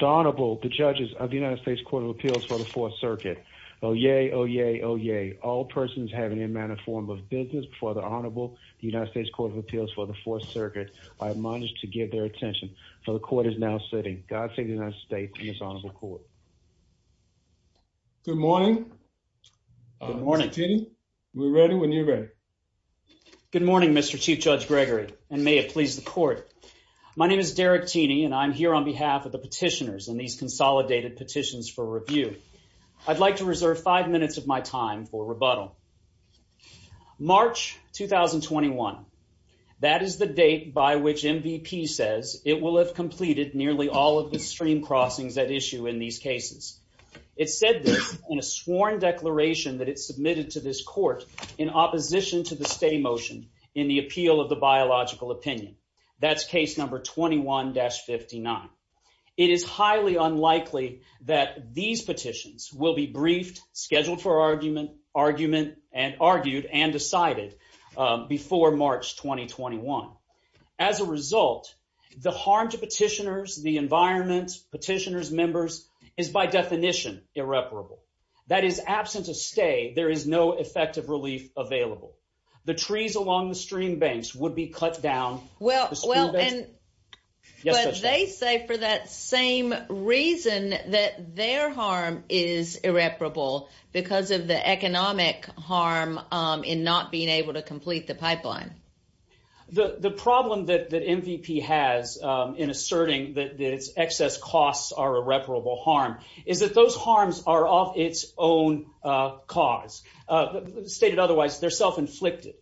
The Honorable, the judges of the United States Court of Appeals for the Fourth Circuit. Oh, yay. Oh, yay. Oh, yay. All persons have any amount of form of business before the Honorable, the United States Court of Appeals for the Fourth Circuit. I have managed to get their attention, so the court is now sitting. God save the United States and his Honorable Court. Good morning. Good morning. Mr. Tini, we're ready when you're ready. Good morning, Mr. Chief Judge Gregory, and may it please the court. My name is Derek Tini, and I'm here on behalf of the petitioners in these consolidated petitions for review. I'd like to reserve five minutes of my time for rebuttal. March 2021. That is the date by which MVP says it will have completed nearly all of the stream crossings at issue in these cases. It said this in a sworn declaration that it submitted to this court in opposition to the stay motion in the appeal of the biological opinion. That's case number 21-59. It is highly unlikely that these petitions will be briefed, scheduled for argument, argued, and decided before March 2021. As a result, the harm to petitioners, the environment, petitioners, members, is by definition irreparable. That is, absent a stay, there is no effective relief available. The trees along the stream banks would be cut down. Well, and they say for that same reason that their harm is irreparable because of the economic harm in not being able to complete the pipeline. The problem that MVP has in asserting that its excess costs are irreparable harm is that those harms are of its own cause. Stated otherwise, they're self-inflicted.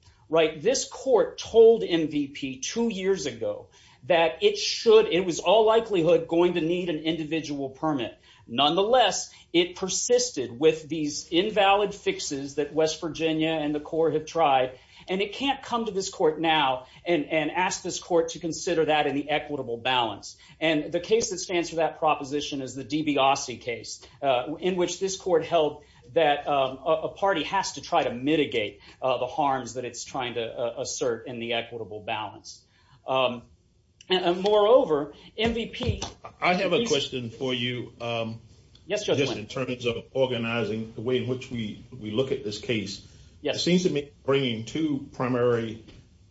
This court told MVP two years ago that it was all likelihood going to need an individual permit. Nonetheless, it persisted with these invalid fixes that West Virginia and the court have tried, and it can't come to this court now and ask this court to consider that in the equitable balance. And the case that stands for that proposition is the DiBiase case, in which this court held that a party has to try to mitigate the harms that it's trying to assert in the equitable balance. And moreover, MVP- I have a question for you. Yes, Judge Wynn. Just in terms of organizing the way in which we look at this case. Yes. It seems to me you're bringing two primary,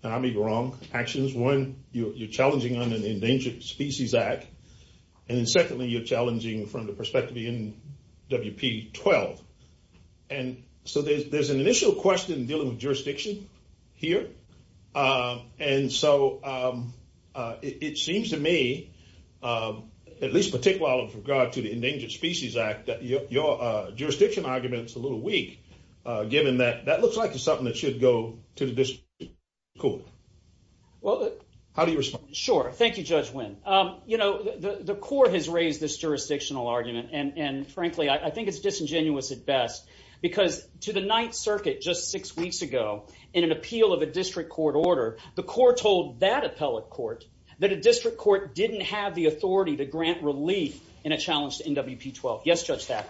and I may be wrong, actions. One, you're challenging under the Endangered Species Act, and then secondly, you're challenging from the perspective of NWP 12. And so there's an initial question dealing with jurisdiction here. And so it seems to me, at least particularly with regard to the Endangered Species Act, that your jurisdiction argument's a little weak, given that that looks like it's something that should go to the district court. Well- How do you respond? Sure. Thank you, Judge Wynn. You know, the court has raised this jurisdictional argument, and frankly, I think it's disingenuous at best. Because to the Ninth Circuit just six weeks ago, in an appeal of a district court order, the court told that appellate court that a district court didn't have the authority to grant relief in a challenge to NWP 12. Yes, Judge Thack?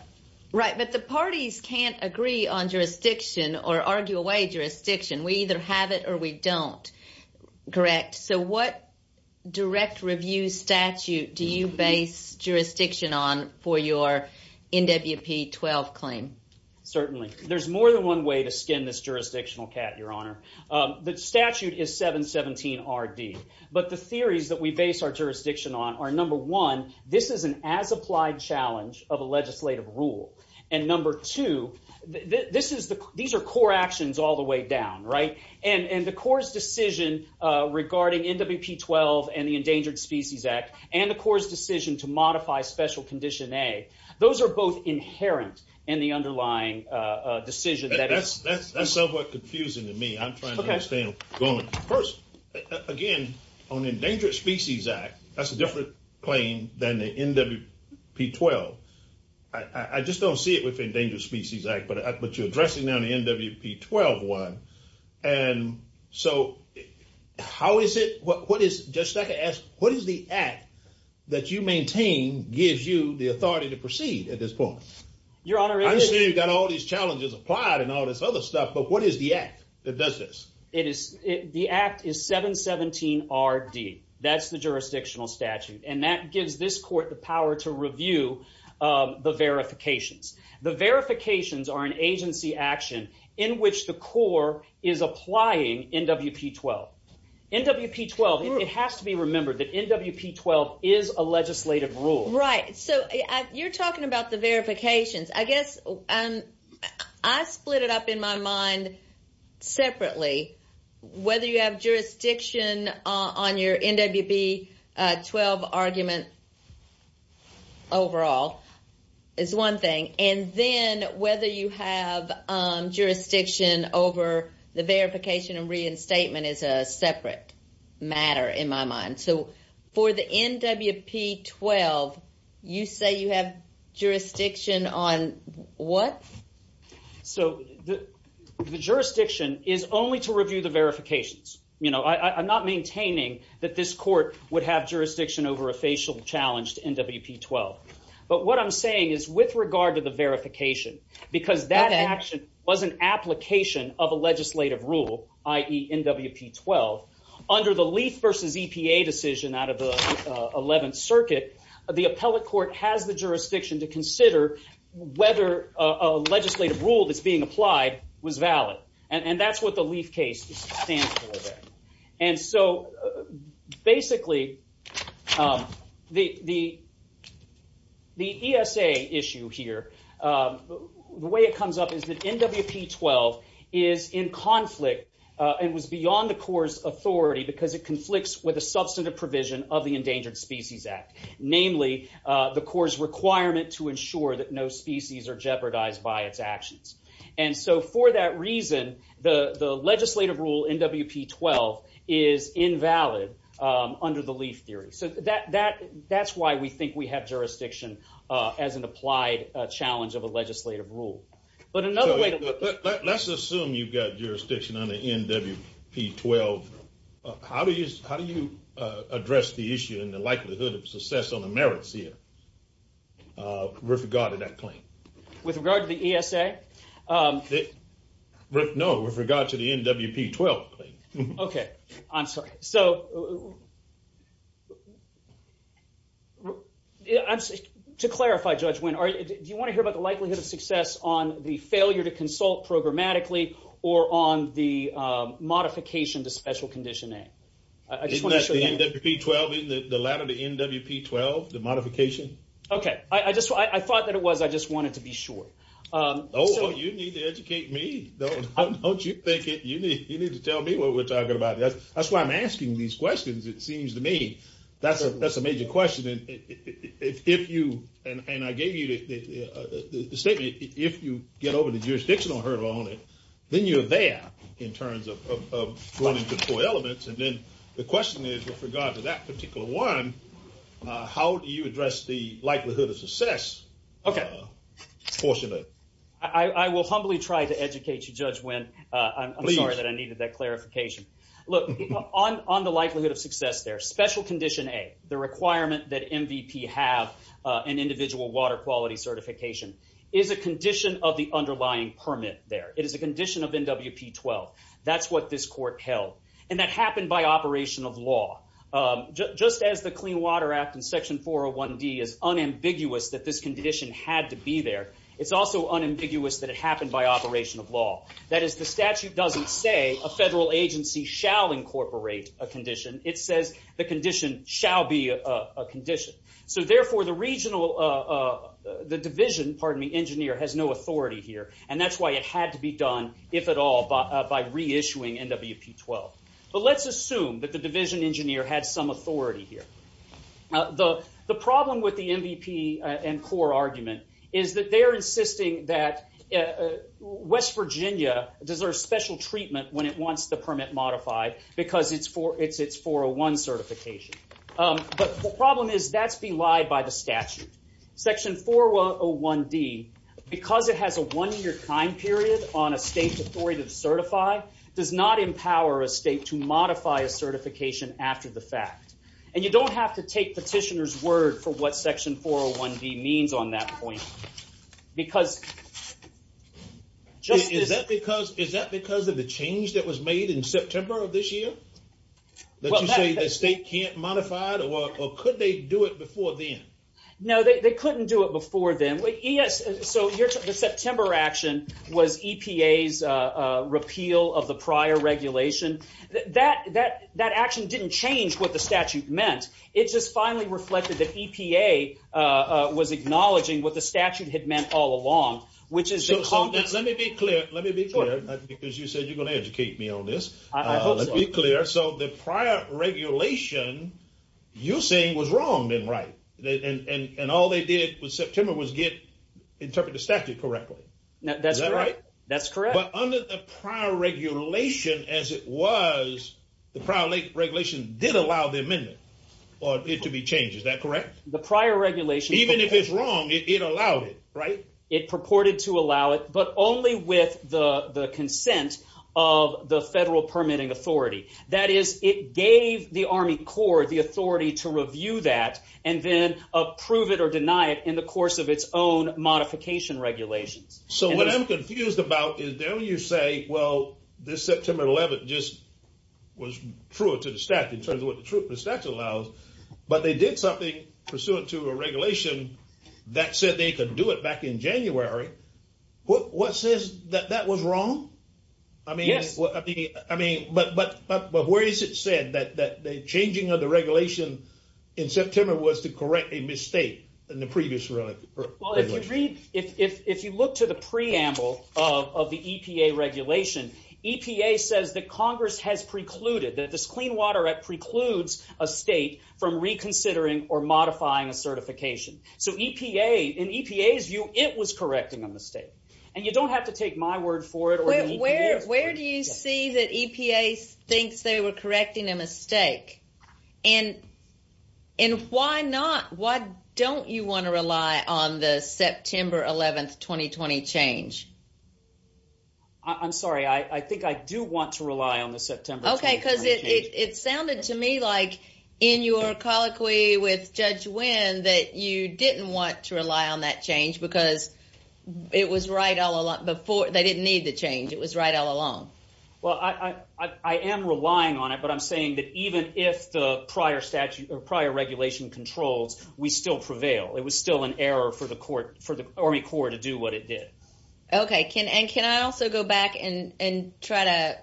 Right, but the parties can't agree on jurisdiction or argue away jurisdiction. We either have it or we don't. Correct. So what direct review statute do you base jurisdiction on for your NWP 12 claim? Certainly. There's more than one way to skin this jurisdictional cat, Your Honor. The statute is 717RD. But the theories that we base our jurisdiction on are, number one, this is an as-applied challenge of a legislative rule. And number two, these are core actions all the way down, right? And the court's decision regarding NWP 12 and the Endangered Species Act, and the court's decision to modify Special Condition A, those are both inherent in the underlying decision. That's somewhat confusing to me. I'm trying to understand. First, again, on the Endangered Species Act, that's a different claim than the NWP 12. I just don't see it with the Endangered Species Act, but you're addressing now the NWP 12 one. And so how is it, what is, Judge Thack, what is the act that you maintain gives you the authority to proceed at this point? Your Honor, it is. I understand you've got all these challenges applied and all this other stuff, but what is the act that does this? The act is 717RD. That's the jurisdictional statute, and that gives this court the power to review the verifications. The verifications are an agency action in which the core is applying NWP 12. NWP 12, it has to be remembered that NWP 12 is a legislative rule. Right. So you're talking about the verifications. I guess I split it up in my mind separately, whether you have jurisdiction on your NWP 12 argument overall is one thing, and then whether you have jurisdiction over the verification and reinstatement is a separate matter in my mind. So for the NWP 12, you say you have jurisdiction on what? So the jurisdiction is only to review the verifications. I'm not maintaining that this court would have jurisdiction over a facial challenge to NWP 12. But what I'm saying is with regard to the verification, because that action was an application of a legislative rule, i.e. NWP 12, under the LEAF versus EPA decision out of the Eleventh Circuit, the appellate court has the jurisdiction to consider whether a legislative rule that's being applied was valid. And that's what the LEAF case stands for there. And so basically the ESA issue here, the way it comes up is that NWP 12 is in conflict and was beyond the court's authority because it conflicts with a substantive provision of the Endangered Species Act, namely the court's requirement to ensure that no species are jeopardized by its actions. And so for that reason, the legislative rule NWP 12 is invalid under the LEAF theory. So that's why we think we have jurisdiction as an applied challenge of a legislative rule. Let's assume you've got jurisdiction under NWP 12. How do you address the issue and the likelihood of success on the merits here with regard to that claim? With regard to the ESA? No, with regard to the NWP 12 claim. Okay. I'm sorry. So to clarify, Judge Wynn, do you want to hear about the likelihood of success on the failure to consult programmatically or on the modification to special condition A? Isn't that the NWP 12, the latter, the NWP 12, the modification? Okay. I thought that it was. I just wanted to be sure. Oh, you need to educate me. Don't you think you need to tell me what we're talking about. That's why I'm asking these questions, it seems to me. That's a major question. And I gave you the statement. If you get over the jurisdictional hurdle on it, then you're there in terms of going into core elements. And then the question is, with regard to that particular one, how do you address the likelihood of success portion of it? I will humbly try to educate you, Judge Wynn. I'm sorry that I needed that clarification. Look, on the likelihood of success there, special condition A, the requirement that MVP have an individual water quality certification, is a condition of the underlying permit there. It is a condition of NWP 12. That's what this court held. And that happened by operation of law. Just as the Clean Water Act in Section 401D is unambiguous that this condition had to be there, it's also unambiguous that it happened by operation of law. That is, the statute doesn't say a federal agency shall incorporate a condition. It says the condition shall be a condition. So, therefore, the division engineer has no authority here. And that's why it had to be done, if at all, by reissuing NWP 12. But let's assume that the division engineer had some authority here. The problem with the MVP and core argument is that they're insisting that West Virginia deserves special treatment when it wants the permit modified because it's 401 certification. But the problem is that's belied by the statute. Section 401D, because it has a one-year time period on a state's authority to certify, does not empower a state to modify a certification after the fact. And you don't have to take petitioner's word for what Section 401D means on that point. Is that because of the change that was made in September of this year? Did you say the state can't modify it, or could they do it before then? No, they couldn't do it before then. Yes, so the September action was EPA's repeal of the prior regulation. That action didn't change what the statute meant. It just finally reflected that EPA was acknowledging what the statute had meant all along, which is the compensation. Let me be clear, because you said you're going to educate me on this. I hope so. Let me be clear. So the prior regulation you're saying was wrong and right, and all they did with September was interpret the statute correctly. Is that right? That's correct. But under the prior regulation as it was, the prior regulation did allow the amendment for it to be changed. Is that correct? The prior regulation— Even if it's wrong, it allowed it, right? It purported to allow it, but only with the consent of the federal permitting authority. That is, it gave the Army Corps the authority to review that and then approve it or deny it in the course of its own modification regulations. So what I'm confused about is then you say, well, this September 11th just was true to the statute in terms of what the statute allows, but they did something pursuant to a regulation that said they could do it back in January. What says that that was wrong? Yes. But where is it said that the changing of the regulation in September was to correct a mistake in the previous regulation? If you look to the preamble of the EPA regulation, EPA says that Congress has precluded, that this Clean Water Act precludes a state from reconsidering or modifying a certification. So in EPA's view, it was correcting a mistake. And you don't have to take my word for it. Where do you see that EPA thinks they were correcting a mistake? And why not? Why don't you want to rely on the September 11th, 2020 change? I'm sorry. I think I do want to rely on the September. OK, because it sounded to me like in your colloquy with Judge Wynn that you didn't want to rely on that change because it was right all along before. They didn't need the change. It was right all along. Well, I am relying on it. But I'm saying that even if the prior regulation controls, we still prevail. It was still an error for the Army Corps to do what it did. OK. And can I also go back and try to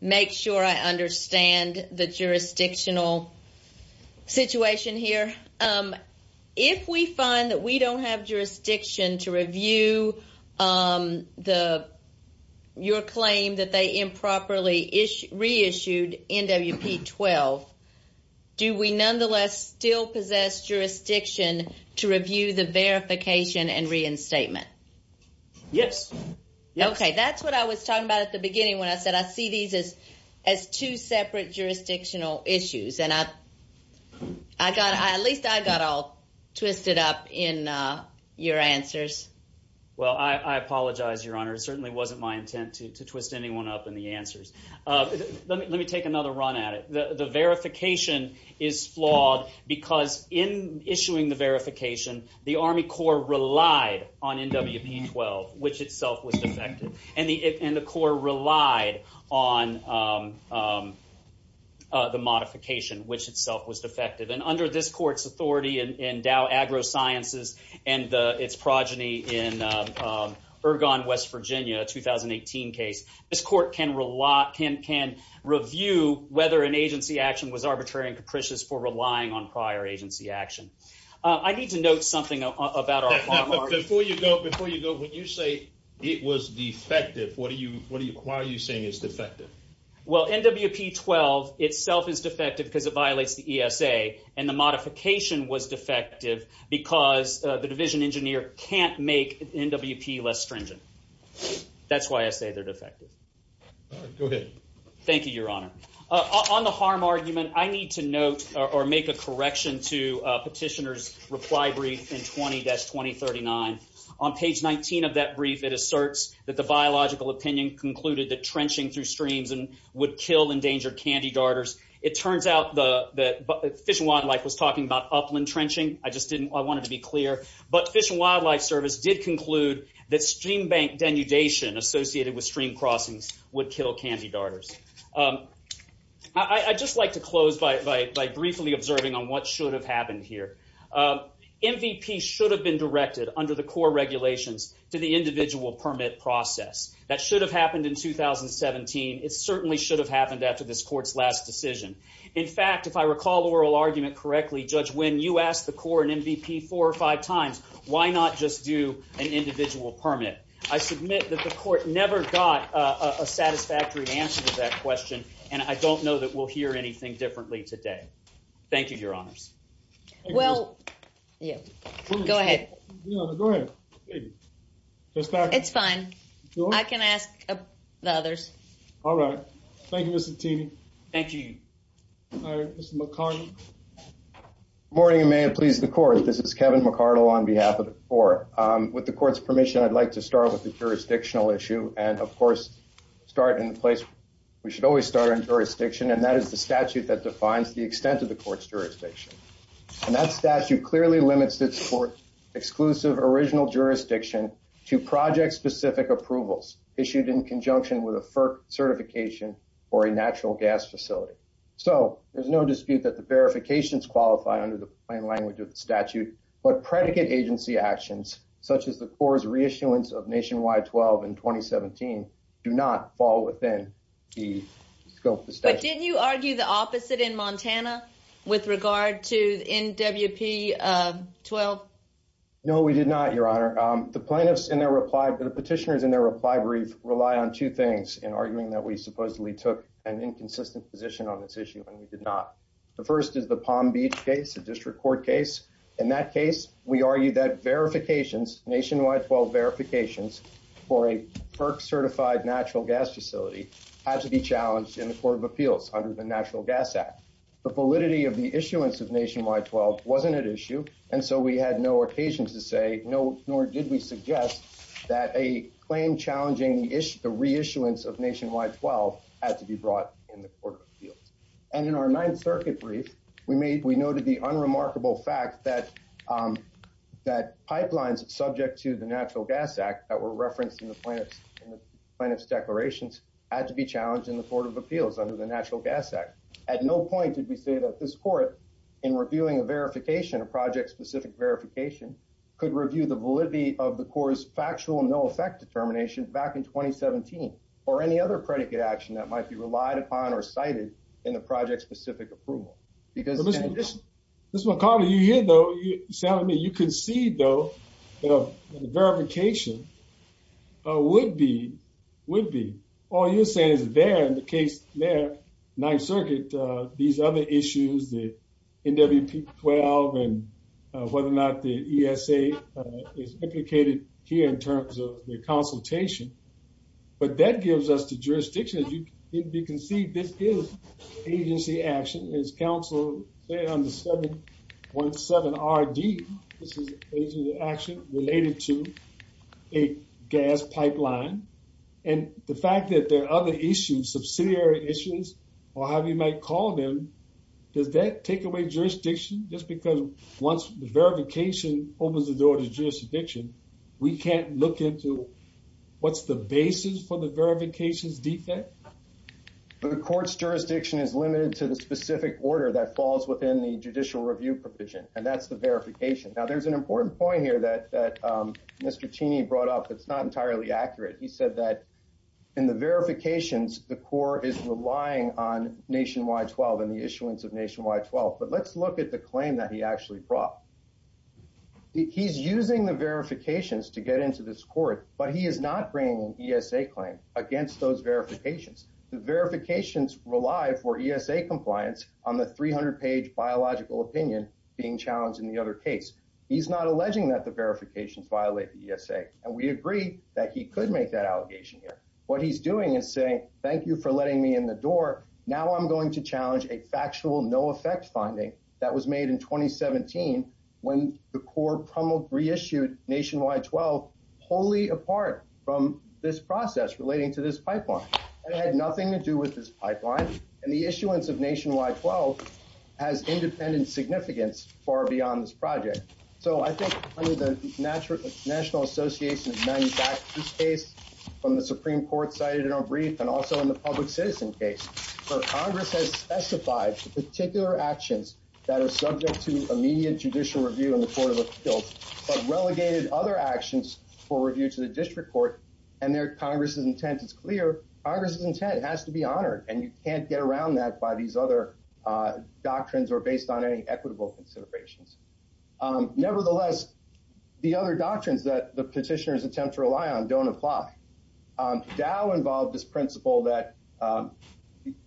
make sure I understand the jurisdictional situation here? If we find that we don't have jurisdiction to review your claim that they improperly reissued NWP-12, do we nonetheless still possess jurisdiction to review the verification and reinstatement? Yes. OK, that's what I was talking about at the beginning when I said I see these as two separate jurisdictional issues. And at least I got all twisted up in your answers. Well, I apologize, Your Honor. It certainly wasn't my intent to twist anyone up in the answers. Let me take another run at it. The verification is flawed because in issuing the verification, the Army Corps relied on NWP-12, which itself was defective. And the Corps relied on the modification, which itself was defective. And under this court's authority in Dow AgroSciences and its progeny in Ergon, West Virginia, a 2018 case, this court can review whether an agency action was arbitrary and capricious for relying on prior agency action. I need to note something about our… Before you go, before you go, when you say it was defective, why are you saying it's defective? Well, NWP-12 itself is defective because it violates the ESA. And the modification was defective because the division engineer can't make NWP less stringent. That's why I say they're defective. Go ahead. Thank you, Your Honor. On the harm argument, I need to note or make a correction to Petitioner's reply brief in 20-2039. On page 19 of that brief, it asserts that the biological opinion concluded that trenching through streams would kill endangered candy darters. It turns out that Fish and Wildlife was talking about upland trenching. I just wanted to be clear. But Fish and Wildlife Service did conclude that stream bank denudation associated with stream crossings would kill candy darters. I'd just like to close by briefly observing on what should have happened here. MVP should have been directed under the core regulations to the individual permit process. That should have happened in 2017. It certainly should have happened after this court's last decision. In fact, if I recall the oral argument correctly, Judge Winn, you asked the court and MVP four or five times, why not just do an individual permit? I submit that the court never got a satisfactory answer to that question, and I don't know that we'll hear anything differently today. Thank you, Your Honors. Well, go ahead. Go ahead. It's fine. I can ask the others. All right. Thank you, Ms. Santini. Thank you. Mr. McCarty. Good morning, and may it please the court. This is Kevin McCarty on behalf of the court. With the court's permission, I'd like to start with the jurisdictional issue and, of course, start in a place we should always start in jurisdiction, and that is the statute that defines the extent of the court's jurisdiction. And that statute clearly limits its exclusive original jurisdiction to project-specific approvals issued in conjunction with a FERC certification or a natural gas facility. So there's no dispute that the verifications qualify under the plain language of the statute, but predicate agency actions, such as the Corps' reissuance of Nationwide 12 in 2017, do not fall within the scope of the statute. But didn't you argue the opposite in Montana with regard to NWP 12? No, we did not, Your Honor. The plaintiffs in their reply, the petitioners in their reply brief relied on two things in arguing that we supposedly took an inconsistent position on this issue, and we did not. The first is the Palm Beach case, a district court case. In that case, we argued that verifications, Nationwide 12 verifications for a FERC-certified natural gas facility had to be challenged in the court of appeals under the Natural Gas Act. The validity of the issuance of Nationwide 12 wasn't at issue, and so we had no occasion to say, nor did we suggest, that a claim challenging the reissuance of Nationwide 12 had to be brought in the court of appeals. And in our Ninth Circuit brief, we noted the unremarkable fact that pipelines subject to the Natural Gas Act that were referenced in the plaintiff's declarations had to be challenged in the court of appeals under the Natural Gas Act. At no point did we say that this court, in reviewing a verification, a project-specific verification, could review the validity of the court's factual no-effect determination back in 2017, or any other predicate action that might be relied upon or cited in the project-specific approval. Mr. McCarty, you're here, though. You can see, though, the verification would be. All you're saying is there, in the case there, Ninth Circuit, these other issues, the NWP-12, and whether or not the ESA is implicated here in terms of the consultation. But that gives us the jurisdiction. As you can see, this is agency action. As counsel said on the 717RD, this is agency action related to a gas pipeline. And the fact that there are other issues, subsidiary issues, or however you might call them, does that take away jurisdiction? Just because once the verification opens the door to jurisdiction, we can't look into what's the basis for the verification's defect? The court's jurisdiction is limited to the specific order that falls within the judicial review provision, and that's the verification. Now, there's an important point here that Mr. Cheney brought up that's not entirely accurate. He said that in the verifications, the court is relying on Nationwide 12 and the issuance of Nationwide 12. But let's look at the claim that he actually brought. He's using the verifications to get into this court, but he is not bringing an ESA claim against those verifications. The verifications rely for ESA compliance on the 300-page biological opinion being challenged in the other case. He's not alleging that the verifications violate the ESA, and we agree that he could make that allegation here. What he's doing is saying, thank you for letting me in the door. Now I'm going to challenge a factual no-effect finding that was made in 2017 when the court reissued Nationwide 12 wholly apart from this process relating to this pipeline. It had nothing to do with this pipeline, and the issuance of Nationwide 12 has independent significance far beyond this project. So I think under the National Association of Manufacturers case from the Supreme Court cited in our brief and also in the public citizen case, Congress has specified particular actions that are subject to immediate judicial review in the court of appeals, but relegated other actions for review to the district court, and there Congress's intent is clear. Congress's intent has to be honored, and you can't get around that by these other doctrines or based on any equitable considerations. Nevertheless, the other doctrines that the petitioners attempt to rely on don't apply. Dow involved this principle that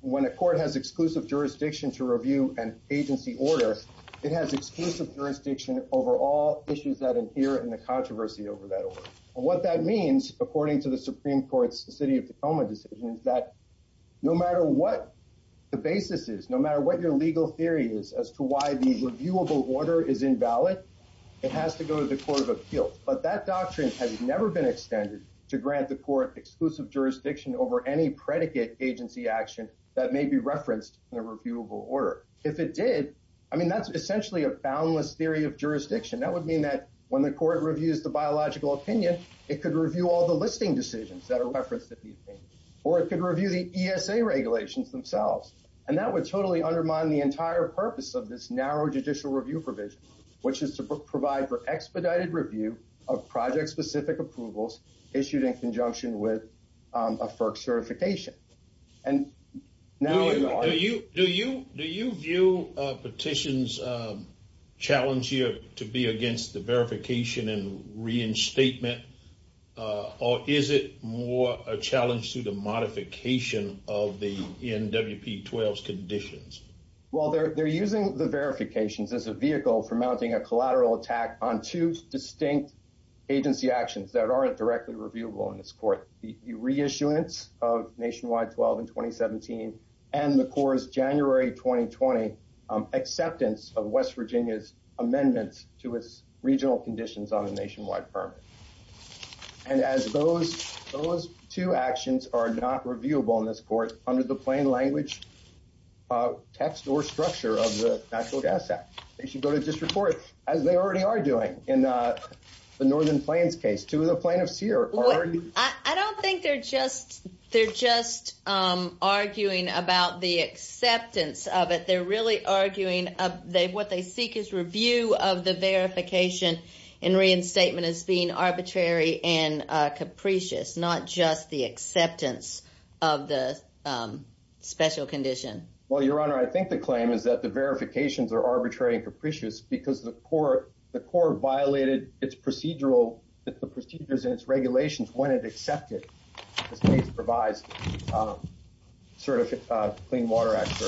when a court has exclusive jurisdiction to review an agency order, it has exclusive jurisdiction over all issues that appear in the controversy over that order. What that means, according to the Supreme Court's City of Tacoma decision, is that no matter what the basis is, no matter what your legal theory is as to why the reviewable order is invalid, it has to go to the court of appeals. But that doctrine has never been extended to grant the court exclusive jurisdiction over any predicate agency action that may be referenced in a reviewable order. If it did, I mean, that's essentially a boundless theory of jurisdiction. That would mean that when the court reviews the biological opinion, it could review all the listing decisions that are referenced in the opinion, or it could review the ESA regulations themselves, and that would totally undermine the entire purpose of this narrow judicial review provision, which is to provide for expedited review of project-specific approvals issued in conjunction with a FERC certification. Do you view a petition's challenge here to be against the verification and reinstatement, or is it more a challenge to the modification of the NWP-12's conditions? Well, they're using the verifications as a vehicle for mounting a collateral attack on two distinct agency actions that aren't directly reviewable in this court. The reissuance of NW-12 in 2017 and the court's January 2020 acceptance of West Virginia's amendments to its regional conditions on a nationwide permit. And as those two actions are not reviewable in this court under the plain language text or structure of the Natural Gas Act, they should go to district court, as they already are doing in the Northern Plains case. I don't think they're just arguing about the acceptance of it. They're really arguing what they seek is review of the verification and reinstatement as being arbitrary and capricious, not just the acceptance of the special condition. Well, Your Honor, I think the claim is that the verifications are arbitrary and capricious because the court violated the procedures and its regulations when it accepted the state's revised Clean Water Act.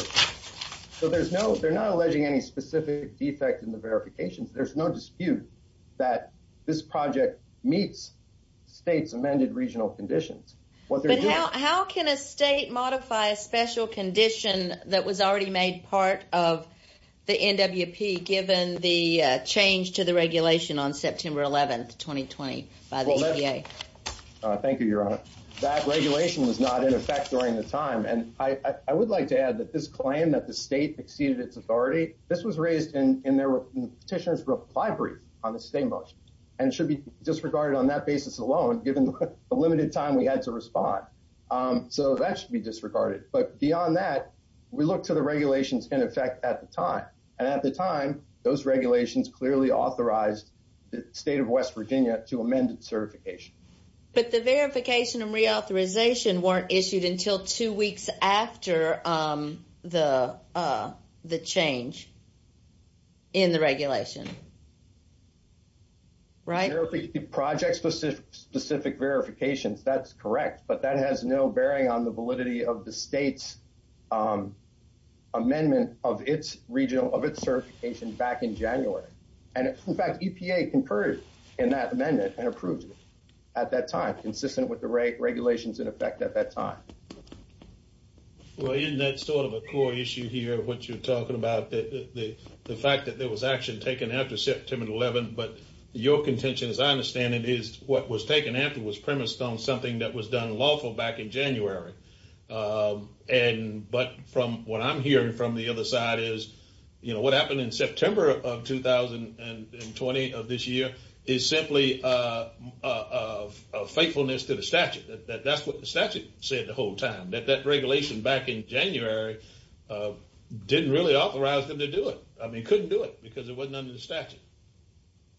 So they're not alleging any specific defect in the verifications. There's no dispute that this project meets state's amended regional conditions. But how can a state modify a special condition that was already made part of the NWP, given the change to the regulation on September 11, 2020, by the EPA? Thank you, Your Honor. That regulation was not in effect during the time. And I would like to add that this claim that the state exceeded its authority, this was raised in the petitioner's reply brief on the state motion, and should be disregarded on that basis alone, given the limited time we had to respond. So that should be disregarded. But beyond that, we look to the regulations in effect at the time. And at the time, those regulations clearly authorized the state of West Virginia to amend its certification. But the verification and reauthorization weren't issued until two weeks after the change in the regulation, right? Project-specific verifications, that's correct. But that has no bearing on the validity of the state's amendment of its certification back in January. And, in fact, EPA concurred in that amendment and approved it at that time, consistent with the regulations in effect at that time. Well, isn't that sort of a core issue here, what you're talking about, the fact that there was action taken after September 11? But your contention, as I understand it, is what was taken after was premised on something that was done lawful back in January. But from what I'm hearing from the other side is, you know, what happened in September of 2020 of this year is simply a faithfulness to the statute. That's what the statute said the whole time, that that regulation back in January didn't really authorize them to do it. I mean, couldn't do it because it wasn't under the statute.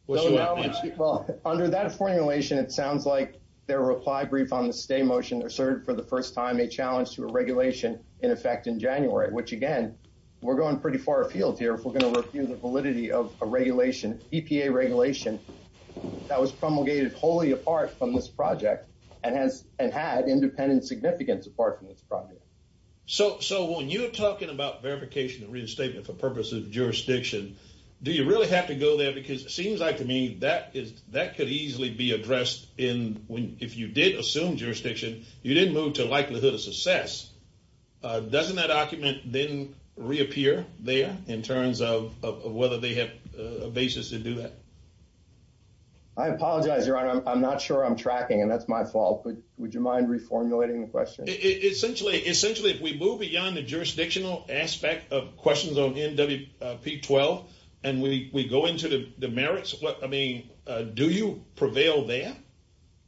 Well, under that formulation, it sounds like their reply brief on the stay motion asserted for the first time a challenge to a regulation in effect in January, which, again, we're going pretty far afield here if we're going to refute the validity of a regulation, EPA regulation, that was promulgated wholly apart from this project and had independent significance apart from this project. So so when you're talking about verification and reinstatement for purposes of jurisdiction, do you really have to go there? Because it seems like to me that is that could easily be addressed in when if you did assume jurisdiction, you didn't move to likelihood of success. Doesn't that document then reappear there in terms of whether they have a basis to do that? I apologize. I'm not sure I'm tracking and that's my fault. But would you mind reformulating the question? Essentially, essentially, if we move beyond the jurisdictional aspect of questions on NWP 12 and we go into the merits of what I mean, do you prevail there?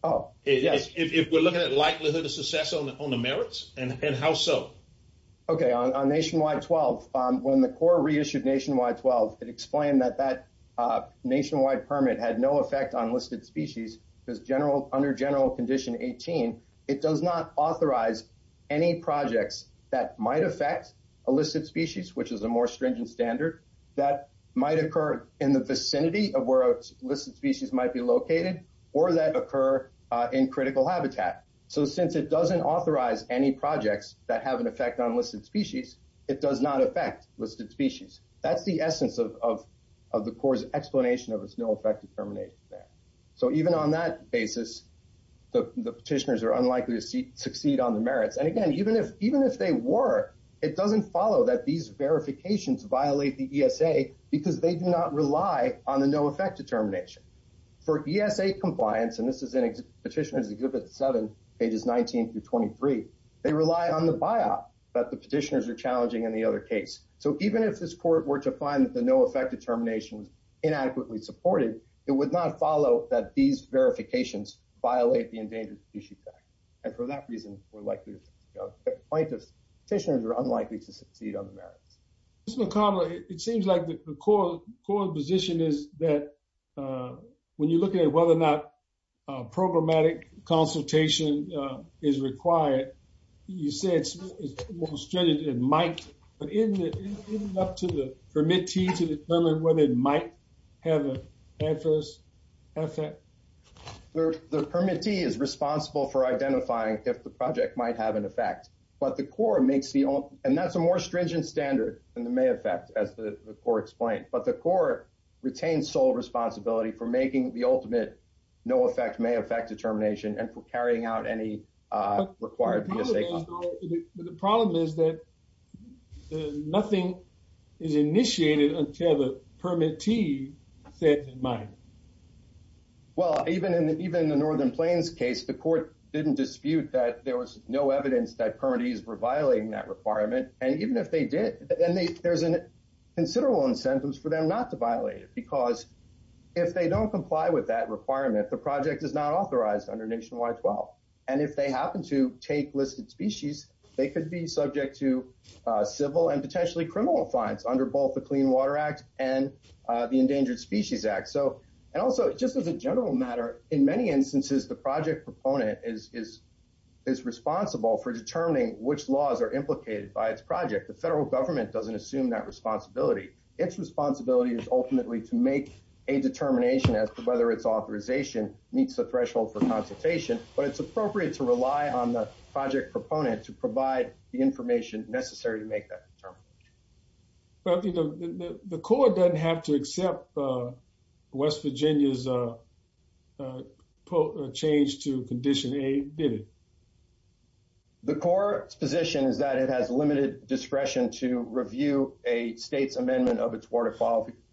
Oh, yes. If we're looking at likelihood of success on the merits and how so? OK, on Nationwide 12, when the Corps reissued Nationwide 12, it explained that that nationwide permit had no effect on listed species because general under general condition 18. It does not authorize any projects that might affect a listed species, which is a more stringent standard that might occur in the vicinity of where listed species might be located or that occur in critical habitat. So since it doesn't authorize any projects that have an effect on listed species, it does not affect listed species. That's the essence of the Corps explanation of its no effect determination there. So even on that basis, the petitioners are unlikely to succeed on the merits. And again, even if even if they were, it doesn't follow that these verifications violate the ESA because they do not rely on the no effect determination for ESA compliance. And this is in Petitioners Exhibit 7, pages 19 through 23. They rely on the biop that the petitioners are challenging in the other case. So even if this court were to find that the no effect determination is inadequately supported, it would not follow that these verifications violate the Endangered Species Act. And for that reason, we're likely to go to plaintiffs. Petitioners are unlikely to succeed on the merits. Mr. McConnell, it seems like the Corps' position is that when you're looking at whether or not programmatic consultation is required, you said it might, but isn't it up to the permittee to determine whether it might have an adverse effect? The permittee is responsible for identifying if the project might have an effect. But the Corps makes the, and that's a more stringent standard than the may affect, as the Corps explained. But the Corps retains sole responsibility for making the ultimate no effect may affect determination and for carrying out any required ESA. The problem is that nothing is initiated until the permittee says it might. Well, even in the Northern Plains case, the court didn't dispute that there was no evidence that permittees were violating that requirement. And even if they did, there's considerable incentives for them not to violate it, because if they don't comply with that requirement, the project is not authorized under Nationwide 12. And if they happen to take listed species, they could be subject to civil and potentially criminal fines under both the Clean Water Act and the Endangered Species Act. And also, just as a general matter, in many instances, the project proponent is responsible for determining which laws are implicated by its project. The federal government doesn't assume that responsibility. Its responsibility is ultimately to make a determination as to whether its authorization meets the threshold for consultation. But it's appropriate to rely on the project proponent to provide the information necessary to make that determination. But the court doesn't have to accept West Virginia's change to Condition A, did it? The court's position is that it has limited discretion to review a state's amendment of its water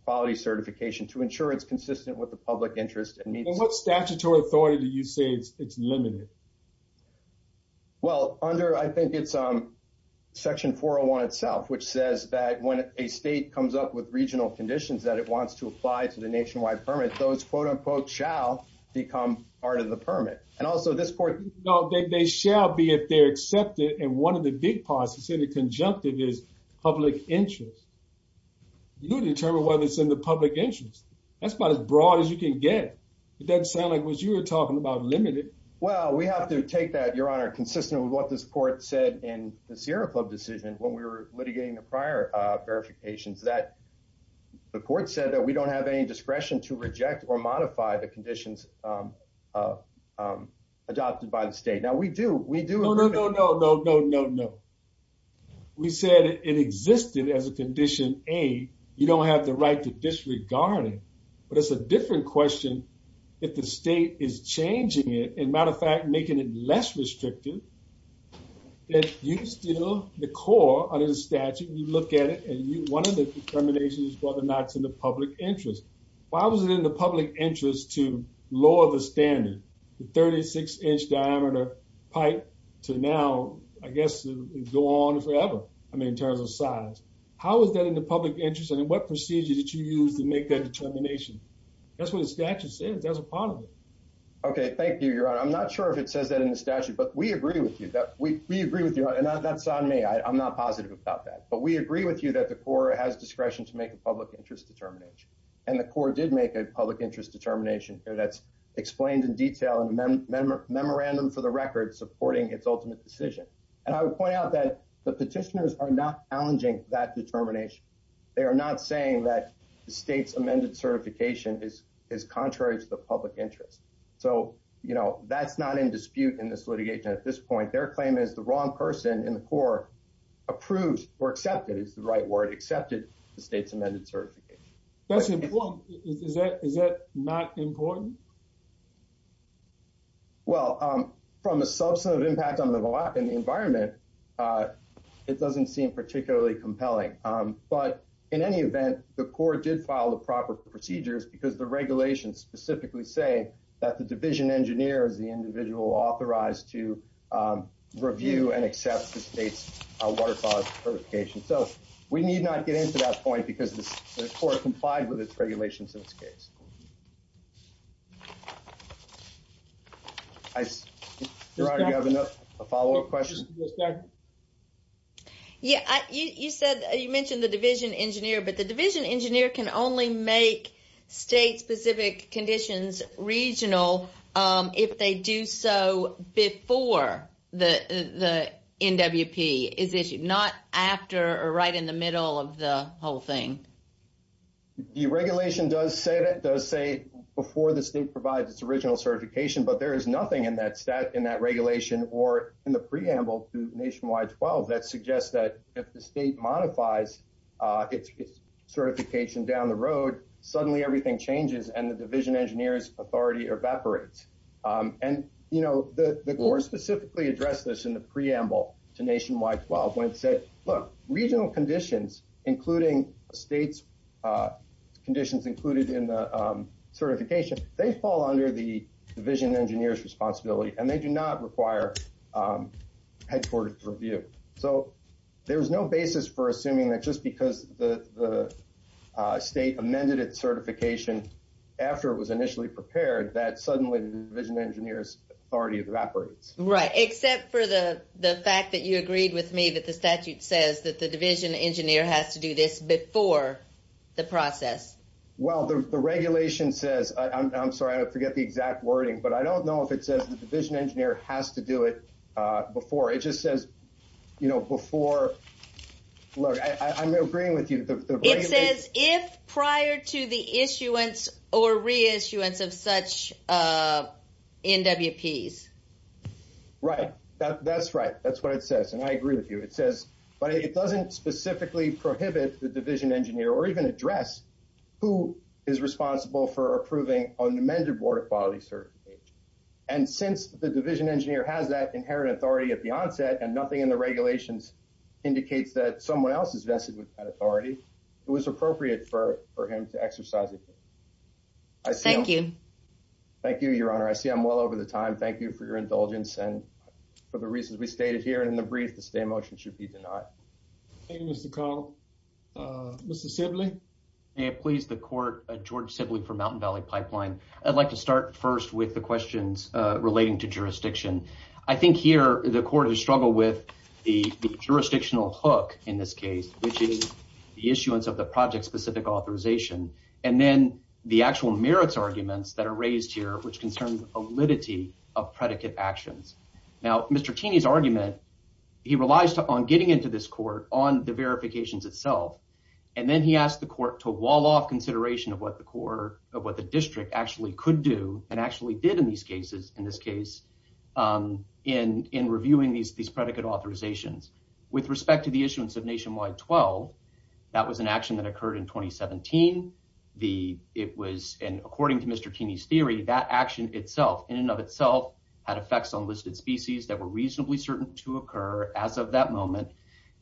quality certification to ensure it's consistent with the public interest. What statutory authority do you say it's limited? Well, under, I think it's Section 401 itself, which says that when a state comes up with regional conditions that it wants to apply to the nationwide permit, those quote-unquote shall become part of the permit. And also, this court- No, they shall be if they're accepted. And one of the big parts is in the conjunctive is public interest. You determine whether it's in the public interest. That's about as broad as you can get. It doesn't sound like what you were talking about, limited. Well, we have to take that, Your Honor, consistent with what this court said in the Sierra Club decision when we were litigating the prior verifications. The court said that we don't have any discretion to reject or modify the conditions adopted by the state. Now, we do. We do- No, no, no, no, no, no, no, no. We said it existed as a Condition A. You don't have the right to disregard it. But it's a different question if the state is changing it. As a matter of fact, making it less restrictive. You still, the core under the statute, you look at it, and one of the determinations is whether or not it's in the public interest. Why was it in the public interest to lower the standard, the 36-inch diameter pipe, to now, I guess, go on forever, I mean, in terms of size? How is that in the public interest, and what procedure did you use to make that determination? That's what the statute says. That's a part of it. Okay, thank you, Your Honor. I'm not sure if it says that in the statute, but we agree with you. We agree with you, and that's on me. I'm not positive about that. But we agree with you that the court has discretion to make a public interest determination. And the court did make a public interest determination that's explained in detail in the memorandum for the record supporting its ultimate decision. And I would point out that the petitioners are not challenging that determination. They are not saying that the state's amended certification is contrary to the public interest. So, you know, that's not in dispute in this litigation at this point. Their claim is the wrong person in the court approved or accepted, is the right word, accepted the state's amended certification. That's important. Is that not important? Well, from a substantive impact on the environment, it doesn't seem particularly compelling. But in any event, the court did file the proper procedures because the regulations specifically say that the division engineer is the individual authorized to review and accept the state's water quality certification. So we need not get into that point because the court complied with its regulations in this case. Do I have enough follow up questions? Yeah, you said you mentioned the division engineer, but the division engineer can only make state specific conditions regional. If they do so before the NWP is issued, not after or right in the middle of the whole thing. The regulation does say that does say before the state provides its original certification. But there is nothing in that stat in that regulation or in the preamble to Nationwide 12 that suggests that if the state modifies its certification down the road, suddenly everything changes and the division engineer's authority evaporates. And, you know, the court specifically addressed this in the preamble to Nationwide 12 when it said, look, regional conditions, including state's conditions included in the certification, they fall under the division engineer's responsibility and they do not require headquarters review. So there is no basis for assuming that just because the state amended its certification after it was initially prepared, that suddenly the division engineer's authority evaporates. Right, except for the fact that you agreed with me that the statute says that the division engineer has to do this before the process. Well, the regulation says, I'm sorry, I forget the exact wording, but I don't know if it says the division engineer has to do it before. It just says, you know, before. Look, I'm agreeing with you. It says if prior to the issuance or reissuance of such NWPs. Right, that's right. That's what it says. And I agree with you. It says, but it doesn't specifically prohibit the division engineer or even address who is responsible for approving unamended water quality certification. And since the division engineer has that inherent authority at the onset and nothing in the regulations indicates that someone else is vested with that authority, it was appropriate for him to exercise it. Thank you. Thank you, Your Honor. I see I'm well over the time. Thank you for your indulgence and for the reasons we stated here. And in the brief, the stay motion should be denied. Thank you, Mr. Carl. Mr. Sibley? May it please the court, George Sibley for Mountain Valley Pipeline. I'd like to start first with the questions relating to jurisdiction. I think here the court has struggled with the jurisdictional hook in this case, which is the issuance of the project-specific authorization, and then the actual merits arguments that are raised here, which concerns validity of predicate actions. Now, Mr. Taney's argument, he relies on getting into this court on the verifications itself, and then he asked the court to wall off consideration of what the district actually could do and actually did in these cases, in this case, in reviewing these predicate authorizations. With respect to the issuance of Nationwide 12, that was an action that occurred in 2017. And according to Mr. Taney's theory, that action itself, in and of itself, had effects on listed species that were reasonably certain to occur as of that moment.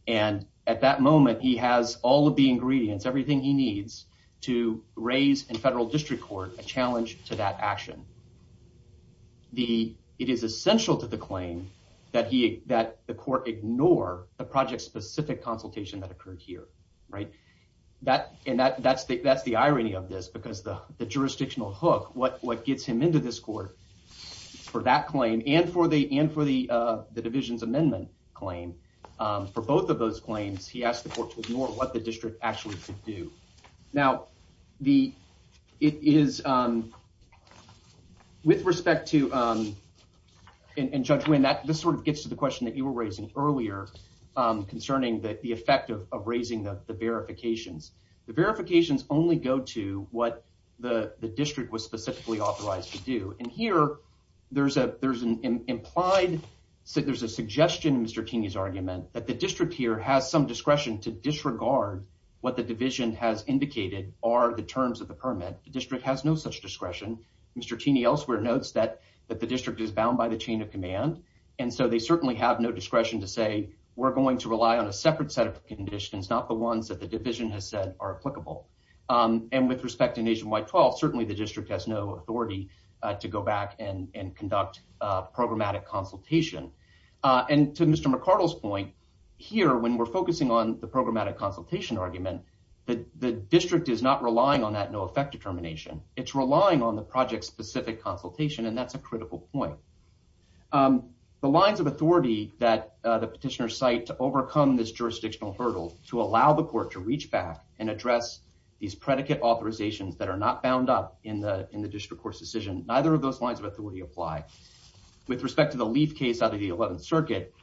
And at that moment, he has all of the ingredients, everything he needs, to raise in federal district court a challenge to that action. It is essential to the claim that the court ignore the project-specific consultation that occurred here, right? And that's the irony of this, because the jurisdictional hook, what gets him into this court for that claim, and for the division's amendment claim, for both of those claims, he asked the court to ignore what the district actually could do. Now, with respect to, and Judge Winn, this sort of gets to the question that you were raising earlier, concerning the effect of raising the verifications. The verifications only go to what the district was specifically authorized to do. And here, there's an implied, there's a suggestion in Mr. Taney's argument, that the district here has some discretion to disregard what the division has indicated are the terms of the permit. The district has no such discretion. Mr. Taney elsewhere notes that the district is bound by the chain of command, and so they certainly have no discretion to say, we're going to rely on a separate set of conditions, not the ones that the division has said are applicable. And with respect to Nationwide 12, certainly the district has no authority to go back and conduct programmatic consultation. And to Mr. McArdle's point, here, when we're focusing on the programmatic consultation argument, the district is not relying on that no effect determination. It's relying on the project-specific consultation, and that's a critical point. The lines of authority that the petitioner cite to overcome this jurisdictional hurdle, to allow the court to reach back and address these predicate authorizations that are not bound up in the district court's decision, neither of those lines of authority apply. With respect to the Leaf case out of the 11th Circuit,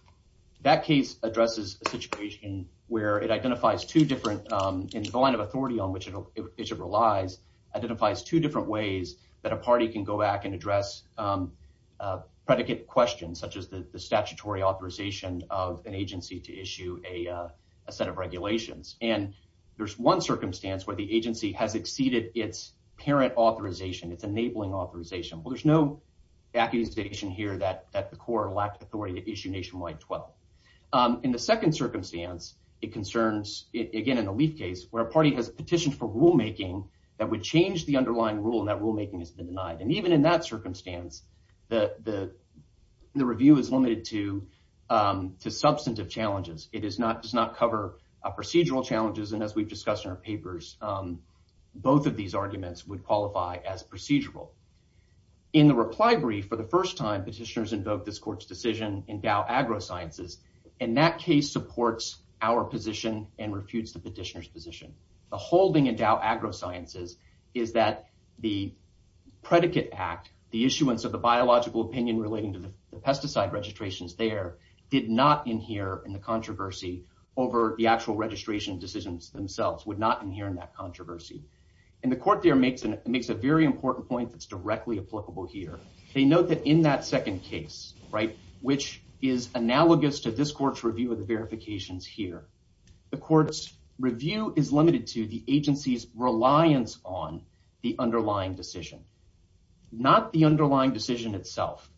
that case addresses a situation where it identifies two different, in the line of authority on which it relies, identifies two different ways that a party can go back and address predicate questions, such as the statutory authorization of an agency to issue a set of regulations. And there's one circumstance where the agency has exceeded its parent authorization, its enabling authorization. Well, there's no accusation here that the court lacked authority to issue Nationwide 12. In the second circumstance, it concerns, again, in the Leaf case, where a party has petitioned for rulemaking that would change the underlying rule, and that rulemaking has been denied. And even in that circumstance, the review is limited to substantive challenges. It does not cover procedural challenges. And as we've discussed in our papers, both of these arguments would qualify as procedural. In the reply brief, for the first time, petitioners invoked this court's decision in Dow AgroSciences, and that case supports our position and refutes the petitioner's position. The whole thing in Dow AgroSciences is that the predicate act, the issuance of the biological opinion relating to the pesticide registrations there, did not inhere in the controversy over the actual registration decisions themselves, would not inhere in that controversy. And the court there makes a very important point that's directly applicable here. They note that in that second case, which is analogous to this court's review of the verifications here, the court's review is limited to the agency's reliance on the underlying decision, not the underlying decision itself.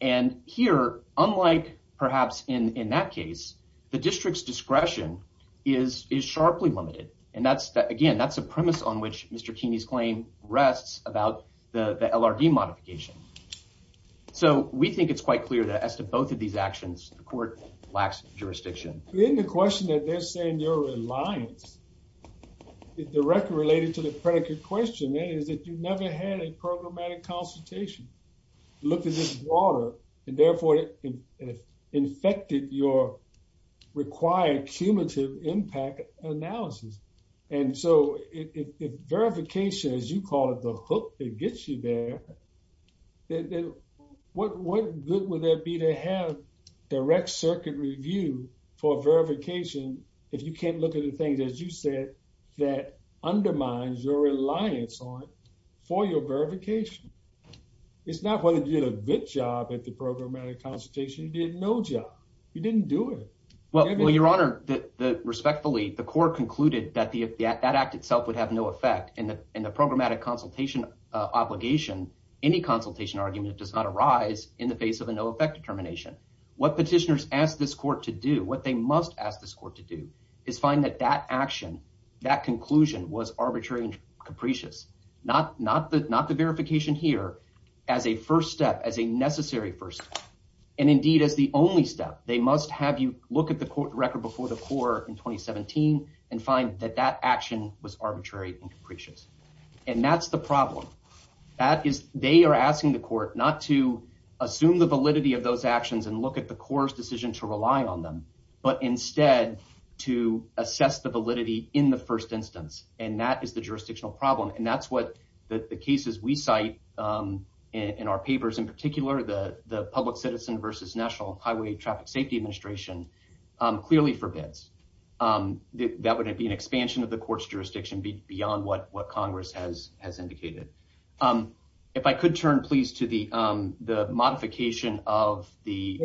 And here, unlike perhaps in that case, the district's discretion is sharply limited. Again, that's a premise on which Mr. Keeney's claim rests about the LRD modification. So we think it's quite clear that as to both of these actions, the court lacks jurisdiction. In the question that they're saying your reliance is directly related to the predicate question, that is that you never had a programmatic consultation, looked at this broader and therefore infected your required cumulative impact analysis. And so if verification, as you call it, the hook that gets you there, what good would that be to have direct circuit review for verification if you can't look at the things, as you said, that undermines your reliance on it for your verification? It's not whether you did a good job at the programmatic consultation. You did no job. You didn't do it. Well, your honor, respectfully, the court concluded that that act itself would have no effect in the programmatic consultation obligation. Any consultation argument does not arise in the face of a no effect determination. What petitioners ask this court to do, what they must ask this court to do, is find that that action, that conclusion was arbitrary and capricious. Not the verification here, as a first step, as a necessary first step. And indeed, as the only step, they must have you look at the court record before the court in 2017 and find that that action was arbitrary and capricious. And that's the problem. They are asking the court not to assume the validity of those actions and look at the court's decision to rely on them, but instead to assess the validity in the first instance. And that is the jurisdictional problem. And that's what the cases we cite in our papers, in particular, the public citizen versus National Highway Traffic Safety Administration clearly forbids. That would be an expansion of the court's jurisdiction beyond what what Congress has has indicated. If I could turn, please, to the modification of the.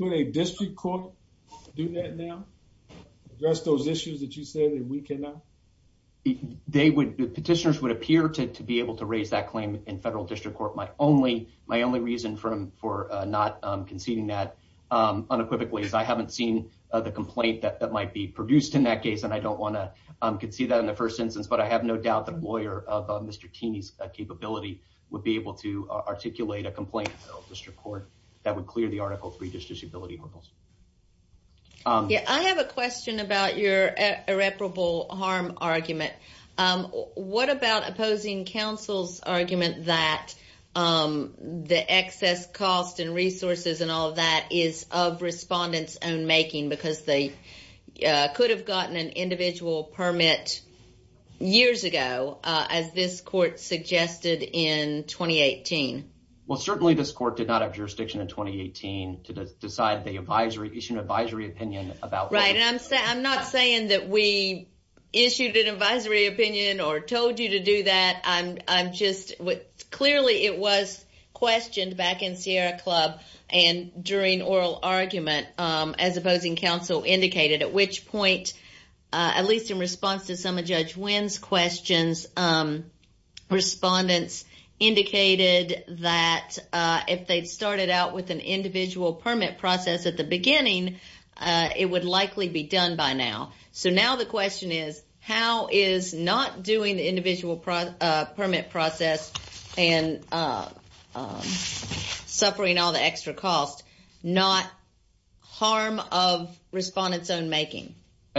A district court do that now address those issues that you said that we cannot. They would petitioners would appear to be able to raise that claim in federal district court. My only my only reason for for not conceding that unequivocally is I haven't seen the complaint that that might be produced in that case. And I don't want to concede that in the first instance. But I have no doubt that a lawyer of Mr. Cheney's capability would be able to articulate a complaint. District court that would clear the article three disability hurdles. Yeah, I have a question about your irreparable harm argument. What about opposing counsel's argument that the excess cost and resources and all that is of respondents and making? Because they could have gotten an individual permit years ago, as this court suggested in twenty eighteen. Well, certainly this court did not have jurisdiction in twenty eighteen to decide the advisory issue, an advisory opinion about. Right. And I'm saying I'm not saying that we issued an advisory opinion or told you to do that. I'm just clearly it was questioned back in Sierra Club and during oral argument as opposing counsel indicated, at which point, at least in response to some of Judge Wynn's questions, respondents indicated that if they'd started out with an individual permit process at the beginning, it would likely be done by now. So now the question is, how is not doing the individual permit process and suffering all the extra cost, not harm of respondents own making?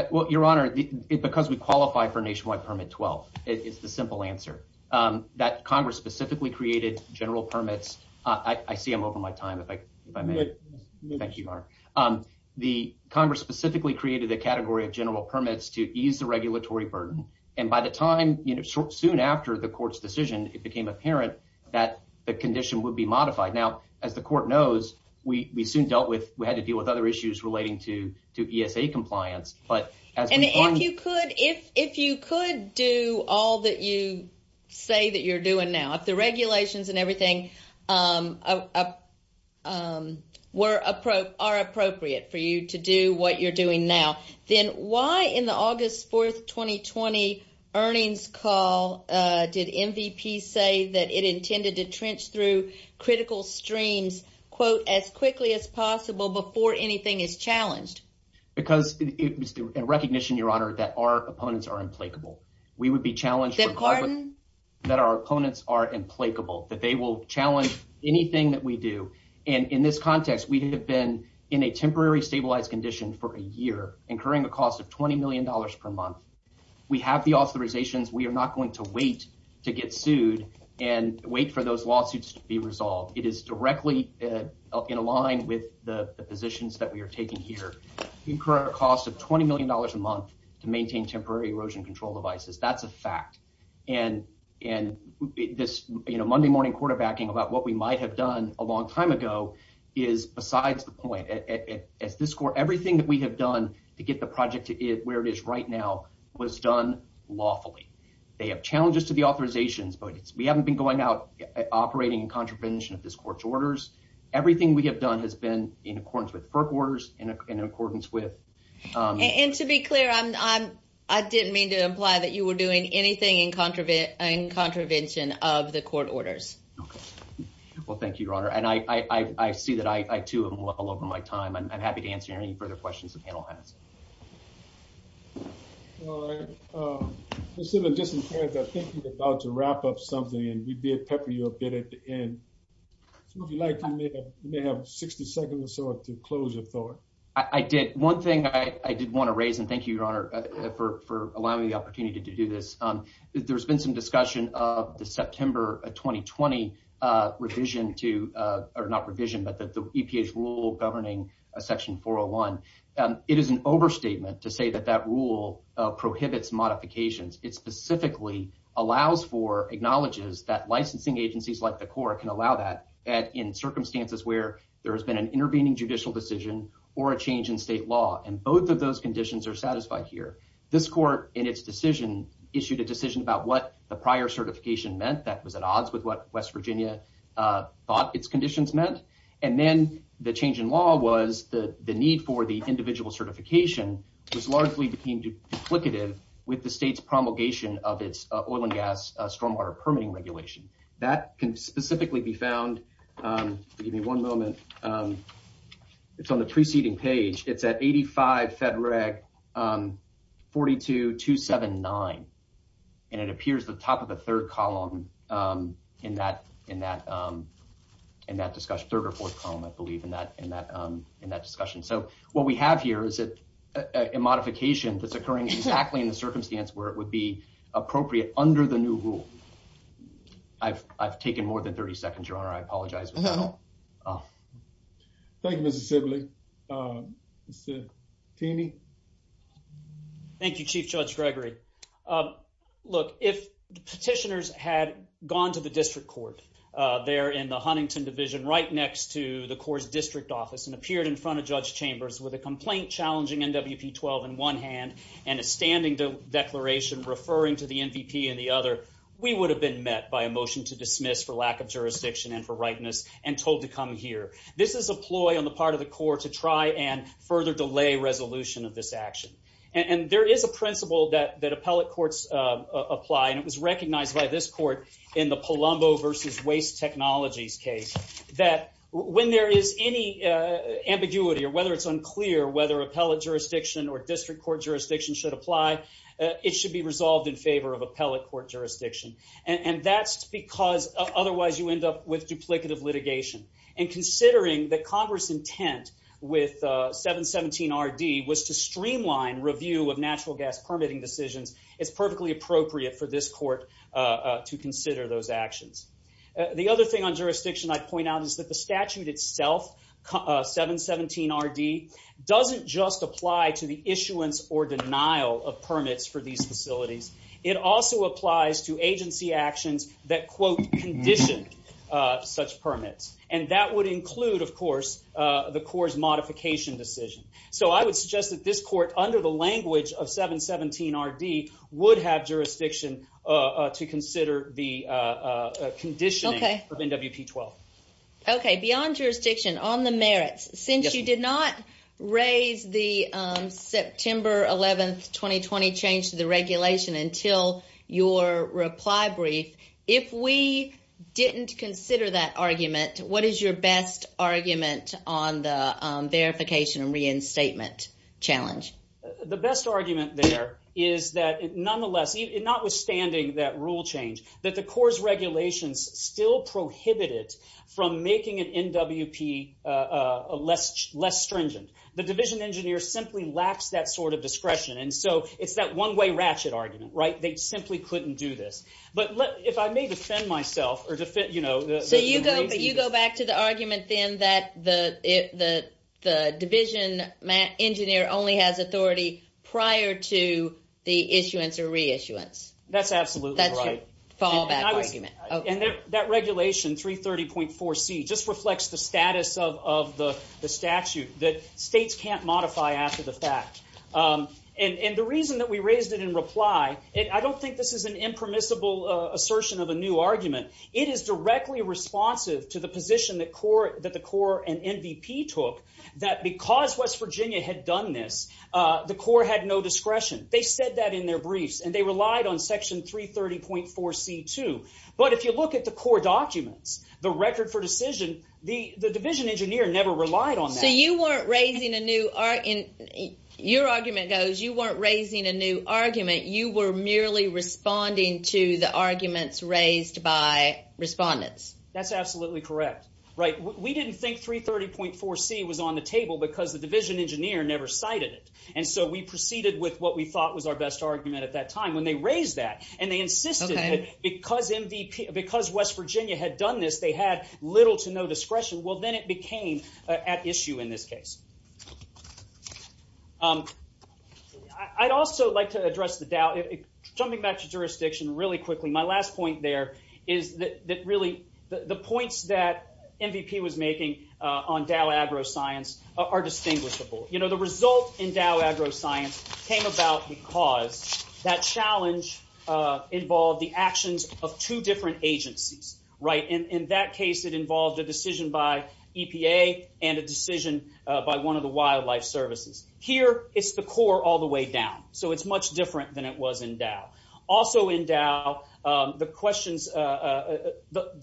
Well, Your Honor, because we qualify for nationwide permit. Well, it's the simple answer that Congress specifically created general permits. I see I'm over my time. If I may. Thank you, Mark. The Congress specifically created a category of general permits to ease the regulatory burden. And by the time soon after the court's decision, it became apparent that the condition would be modified. Now, as the court knows, we soon dealt with we had to deal with other issues relating to to ESA compliance. And if you could, if if you could do all that you say that you're doing now, if the regulations and everything were appropriate are appropriate for you to do what you're doing now, then why in the August 4th, 2020 earnings call did MVP say that it intended to trench through critical streams, quote, as quickly as possible before anything is challenged? Because it was a recognition, Your Honor, that our opponents are implacable. We would be challenged that our opponents are implacable, that they will challenge anything that we do. And in this context, we have been in a temporary stabilized condition for a year, incurring a cost of 20 million dollars per month. We have the authorizations. We are not going to wait to get sued and wait for those lawsuits to be resolved. It is directly in line with the positions that we are taking here. We incur a cost of 20 million dollars a month to maintain temporary erosion control devices. That's a fact. And and this Monday morning quarterbacking about what we might have done a long time ago is besides the point. As this score, everything that we have done to get the project to where it is right now was done lawfully. They have challenges to the authorizations, but we haven't been going out operating in contravention of this court's orders. Everything we have done has been in accordance with FERC orders and in accordance with. And to be clear, I'm I'm I didn't mean to imply that you were doing anything in contravene and contravention of the court orders. Well, thank you, Your Honor. And I see that I, too, am well over my time. I'm happy to answer any further questions the panel has. All right. So just in case I think we're about to wrap up something and we did pepper you a bit at the end. Would you like to have 60 seconds or so to close your thought? I did. One thing I did want to raise and thank you, Your Honor, for allowing me the opportunity to do this. There's been some discussion of the September 2020 revision to or not revision, but that the EPA's rule governing a section 401. It is an overstatement to say that that rule prohibits modifications. It specifically allows for acknowledges that licensing agencies like the court can allow that in circumstances where there has been an intervening judicial decision or a change in state law. And both of those conditions are satisfied here. This court in its decision issued a decision about what the prior certification meant. That was at odds with what West Virginia thought its conditions meant. And then the change in law was the need for the individual certification was largely became duplicative with the state's promulgation of its oil and gas stormwater permitting regulation. That can specifically be found. Give me one moment. It's on the preceding page. It's at 85 Fed Reg 42 279. And it appears the top of the third column in that in that in that discussion, third or fourth column, I believe, in that in that in that discussion. So what we have here is a modification that's occurring exactly in the circumstance where it would be appropriate under the new rule. I've I've taken more than 30 seconds, your honor. I apologize. Thank you, Mr. Sibley. Thank you, Chief Judge Gregory. Look, if petitioners had gone to the district court there in the Huntington division right next to the court's district office and appeared in front of Judge Chambers with a complaint challenging NWP 12 in one hand and a standing declaration referring to the MVP in the other. We would have been met by a motion to dismiss for lack of jurisdiction and for rightness and told to come here. This is a ploy on the part of the court to try and further delay resolution of this action. And there is a principle that that appellate courts apply. And it was recognized by this court in the Palumbo versus waste technologies case that when there is any ambiguity or whether it's unclear whether appellate jurisdiction or district court jurisdiction should apply. It should be resolved in favor of appellate court jurisdiction. And that's because otherwise you end up with duplicative litigation. And considering that Congress intent with 717 RD was to streamline review of natural gas permitting decisions, it's perfectly appropriate for this court to consider those actions. The other thing on jurisdiction I point out is that the statute itself, 717 RD, doesn't just apply to the issuance or denial of permits for these facilities. It also applies to agency actions that, quote, condition such permits. And that would include, of course, the Corps' modification decision. So I would suggest that this court, under the language of 717 RD, would have jurisdiction to consider the conditioning of NWP 12. Okay, beyond jurisdiction, on the merits, since you did not raise the September 11th, 2020 change to the regulation until your reply brief, if we didn't consider that argument, what is your best argument on the verification and reinstatement challenge? The best argument there is that, nonetheless, notwithstanding that rule change, that the Corps' regulations still prohibit it from making an NWP less stringent. The division engineer simply lacks that sort of discretion, and so it's that one-way ratchet argument, right? They simply couldn't do this. So you go back to the argument, then, that the division engineer only has authority prior to the issuance or reissuance. That's absolutely right. That's your fallback argument. And that regulation, 330.4C, just reflects the status of the statute that states can't modify after the fact. And the reason that we raised it in reply, I don't think this is an impermissible assertion of a new argument. It is directly responsive to the position that the Corps and NWP took, that because West Virginia had done this, the Corps had no discretion. They said that in their briefs, and they relied on Section 330.4C, too. But if you look at the Corps documents, the record for decision, the division engineer never relied on that. So you weren't raising a new argument. Your argument goes you weren't raising a new argument. You were merely responding to the arguments raised by respondents. That's absolutely correct. We didn't think 330.4C was on the table because the division engineer never cited it. And so we proceeded with what we thought was our best argument at that time when they raised that. And they insisted that because West Virginia had done this, they had little to no discretion. Well, then it became at issue in this case. I'd also like to address the Dow. Jumping back to jurisdiction really quickly, my last point there is that really the points that MVP was making on Dow AgroScience are distinguishable. The result in Dow AgroScience came about because that challenge involved the actions of two different agencies. In that case, it involved a decision by EPA and a decision by one of the wildlife services. Here, it's the Corps all the way down. So it's much different than it was in Dow. Also in Dow, the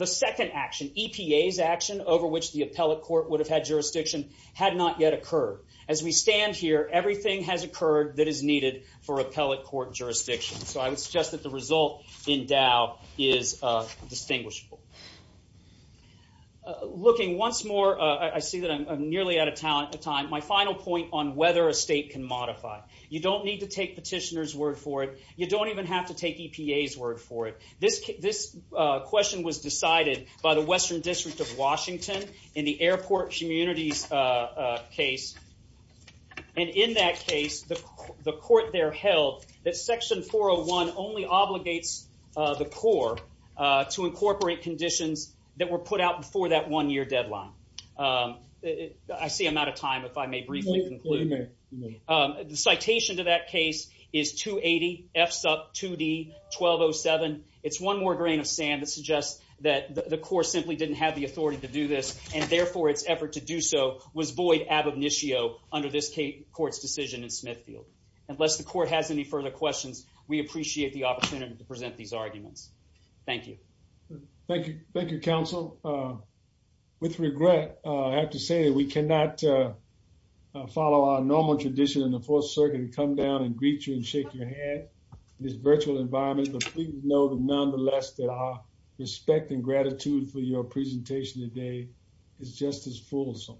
second action, EPA's action over which the appellate court would have had jurisdiction, had not yet occurred. As we stand here, everything has occurred that is needed for appellate court jurisdiction. So I would suggest that the result in Dow is distinguishable. I see that I'm nearly out of time. My final point on whether a state can modify. You don't need to take petitioner's word for it. You don't even have to take EPA's word for it. This question was decided by the Western District of Washington in the airport communities case. And in that case, the court there held that Section 401 only obligates the Corps to incorporate conditions that were put out before that one-year deadline. I see I'm out of time, if I may briefly conclude. You may. The citation to that case is 280F2D1207. It's one more grain of sand that suggests that the Corps simply didn't have the authority to do this. And therefore, its effort to do so was void ad obitio under this court's decision in Smithfield. Unless the court has any further questions, we appreciate the opportunity to present these arguments. Thank you. Thank you. Thank you, counsel. With regret, I have to say that we cannot follow our normal tradition in the Fourth Circuit to come down and greet you and shake your hand in this virtual environment. But please know that nonetheless that our respect and gratitude for your presentation today is just as fulsome.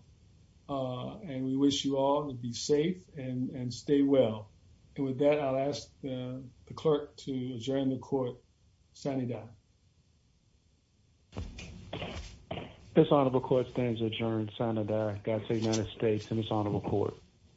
And we wish you all to be safe and stay well. And with that, I'll ask the clerk to adjourn the court. Senator. This honorable court stands adjourned. Senator. That's the United States and its honorable court.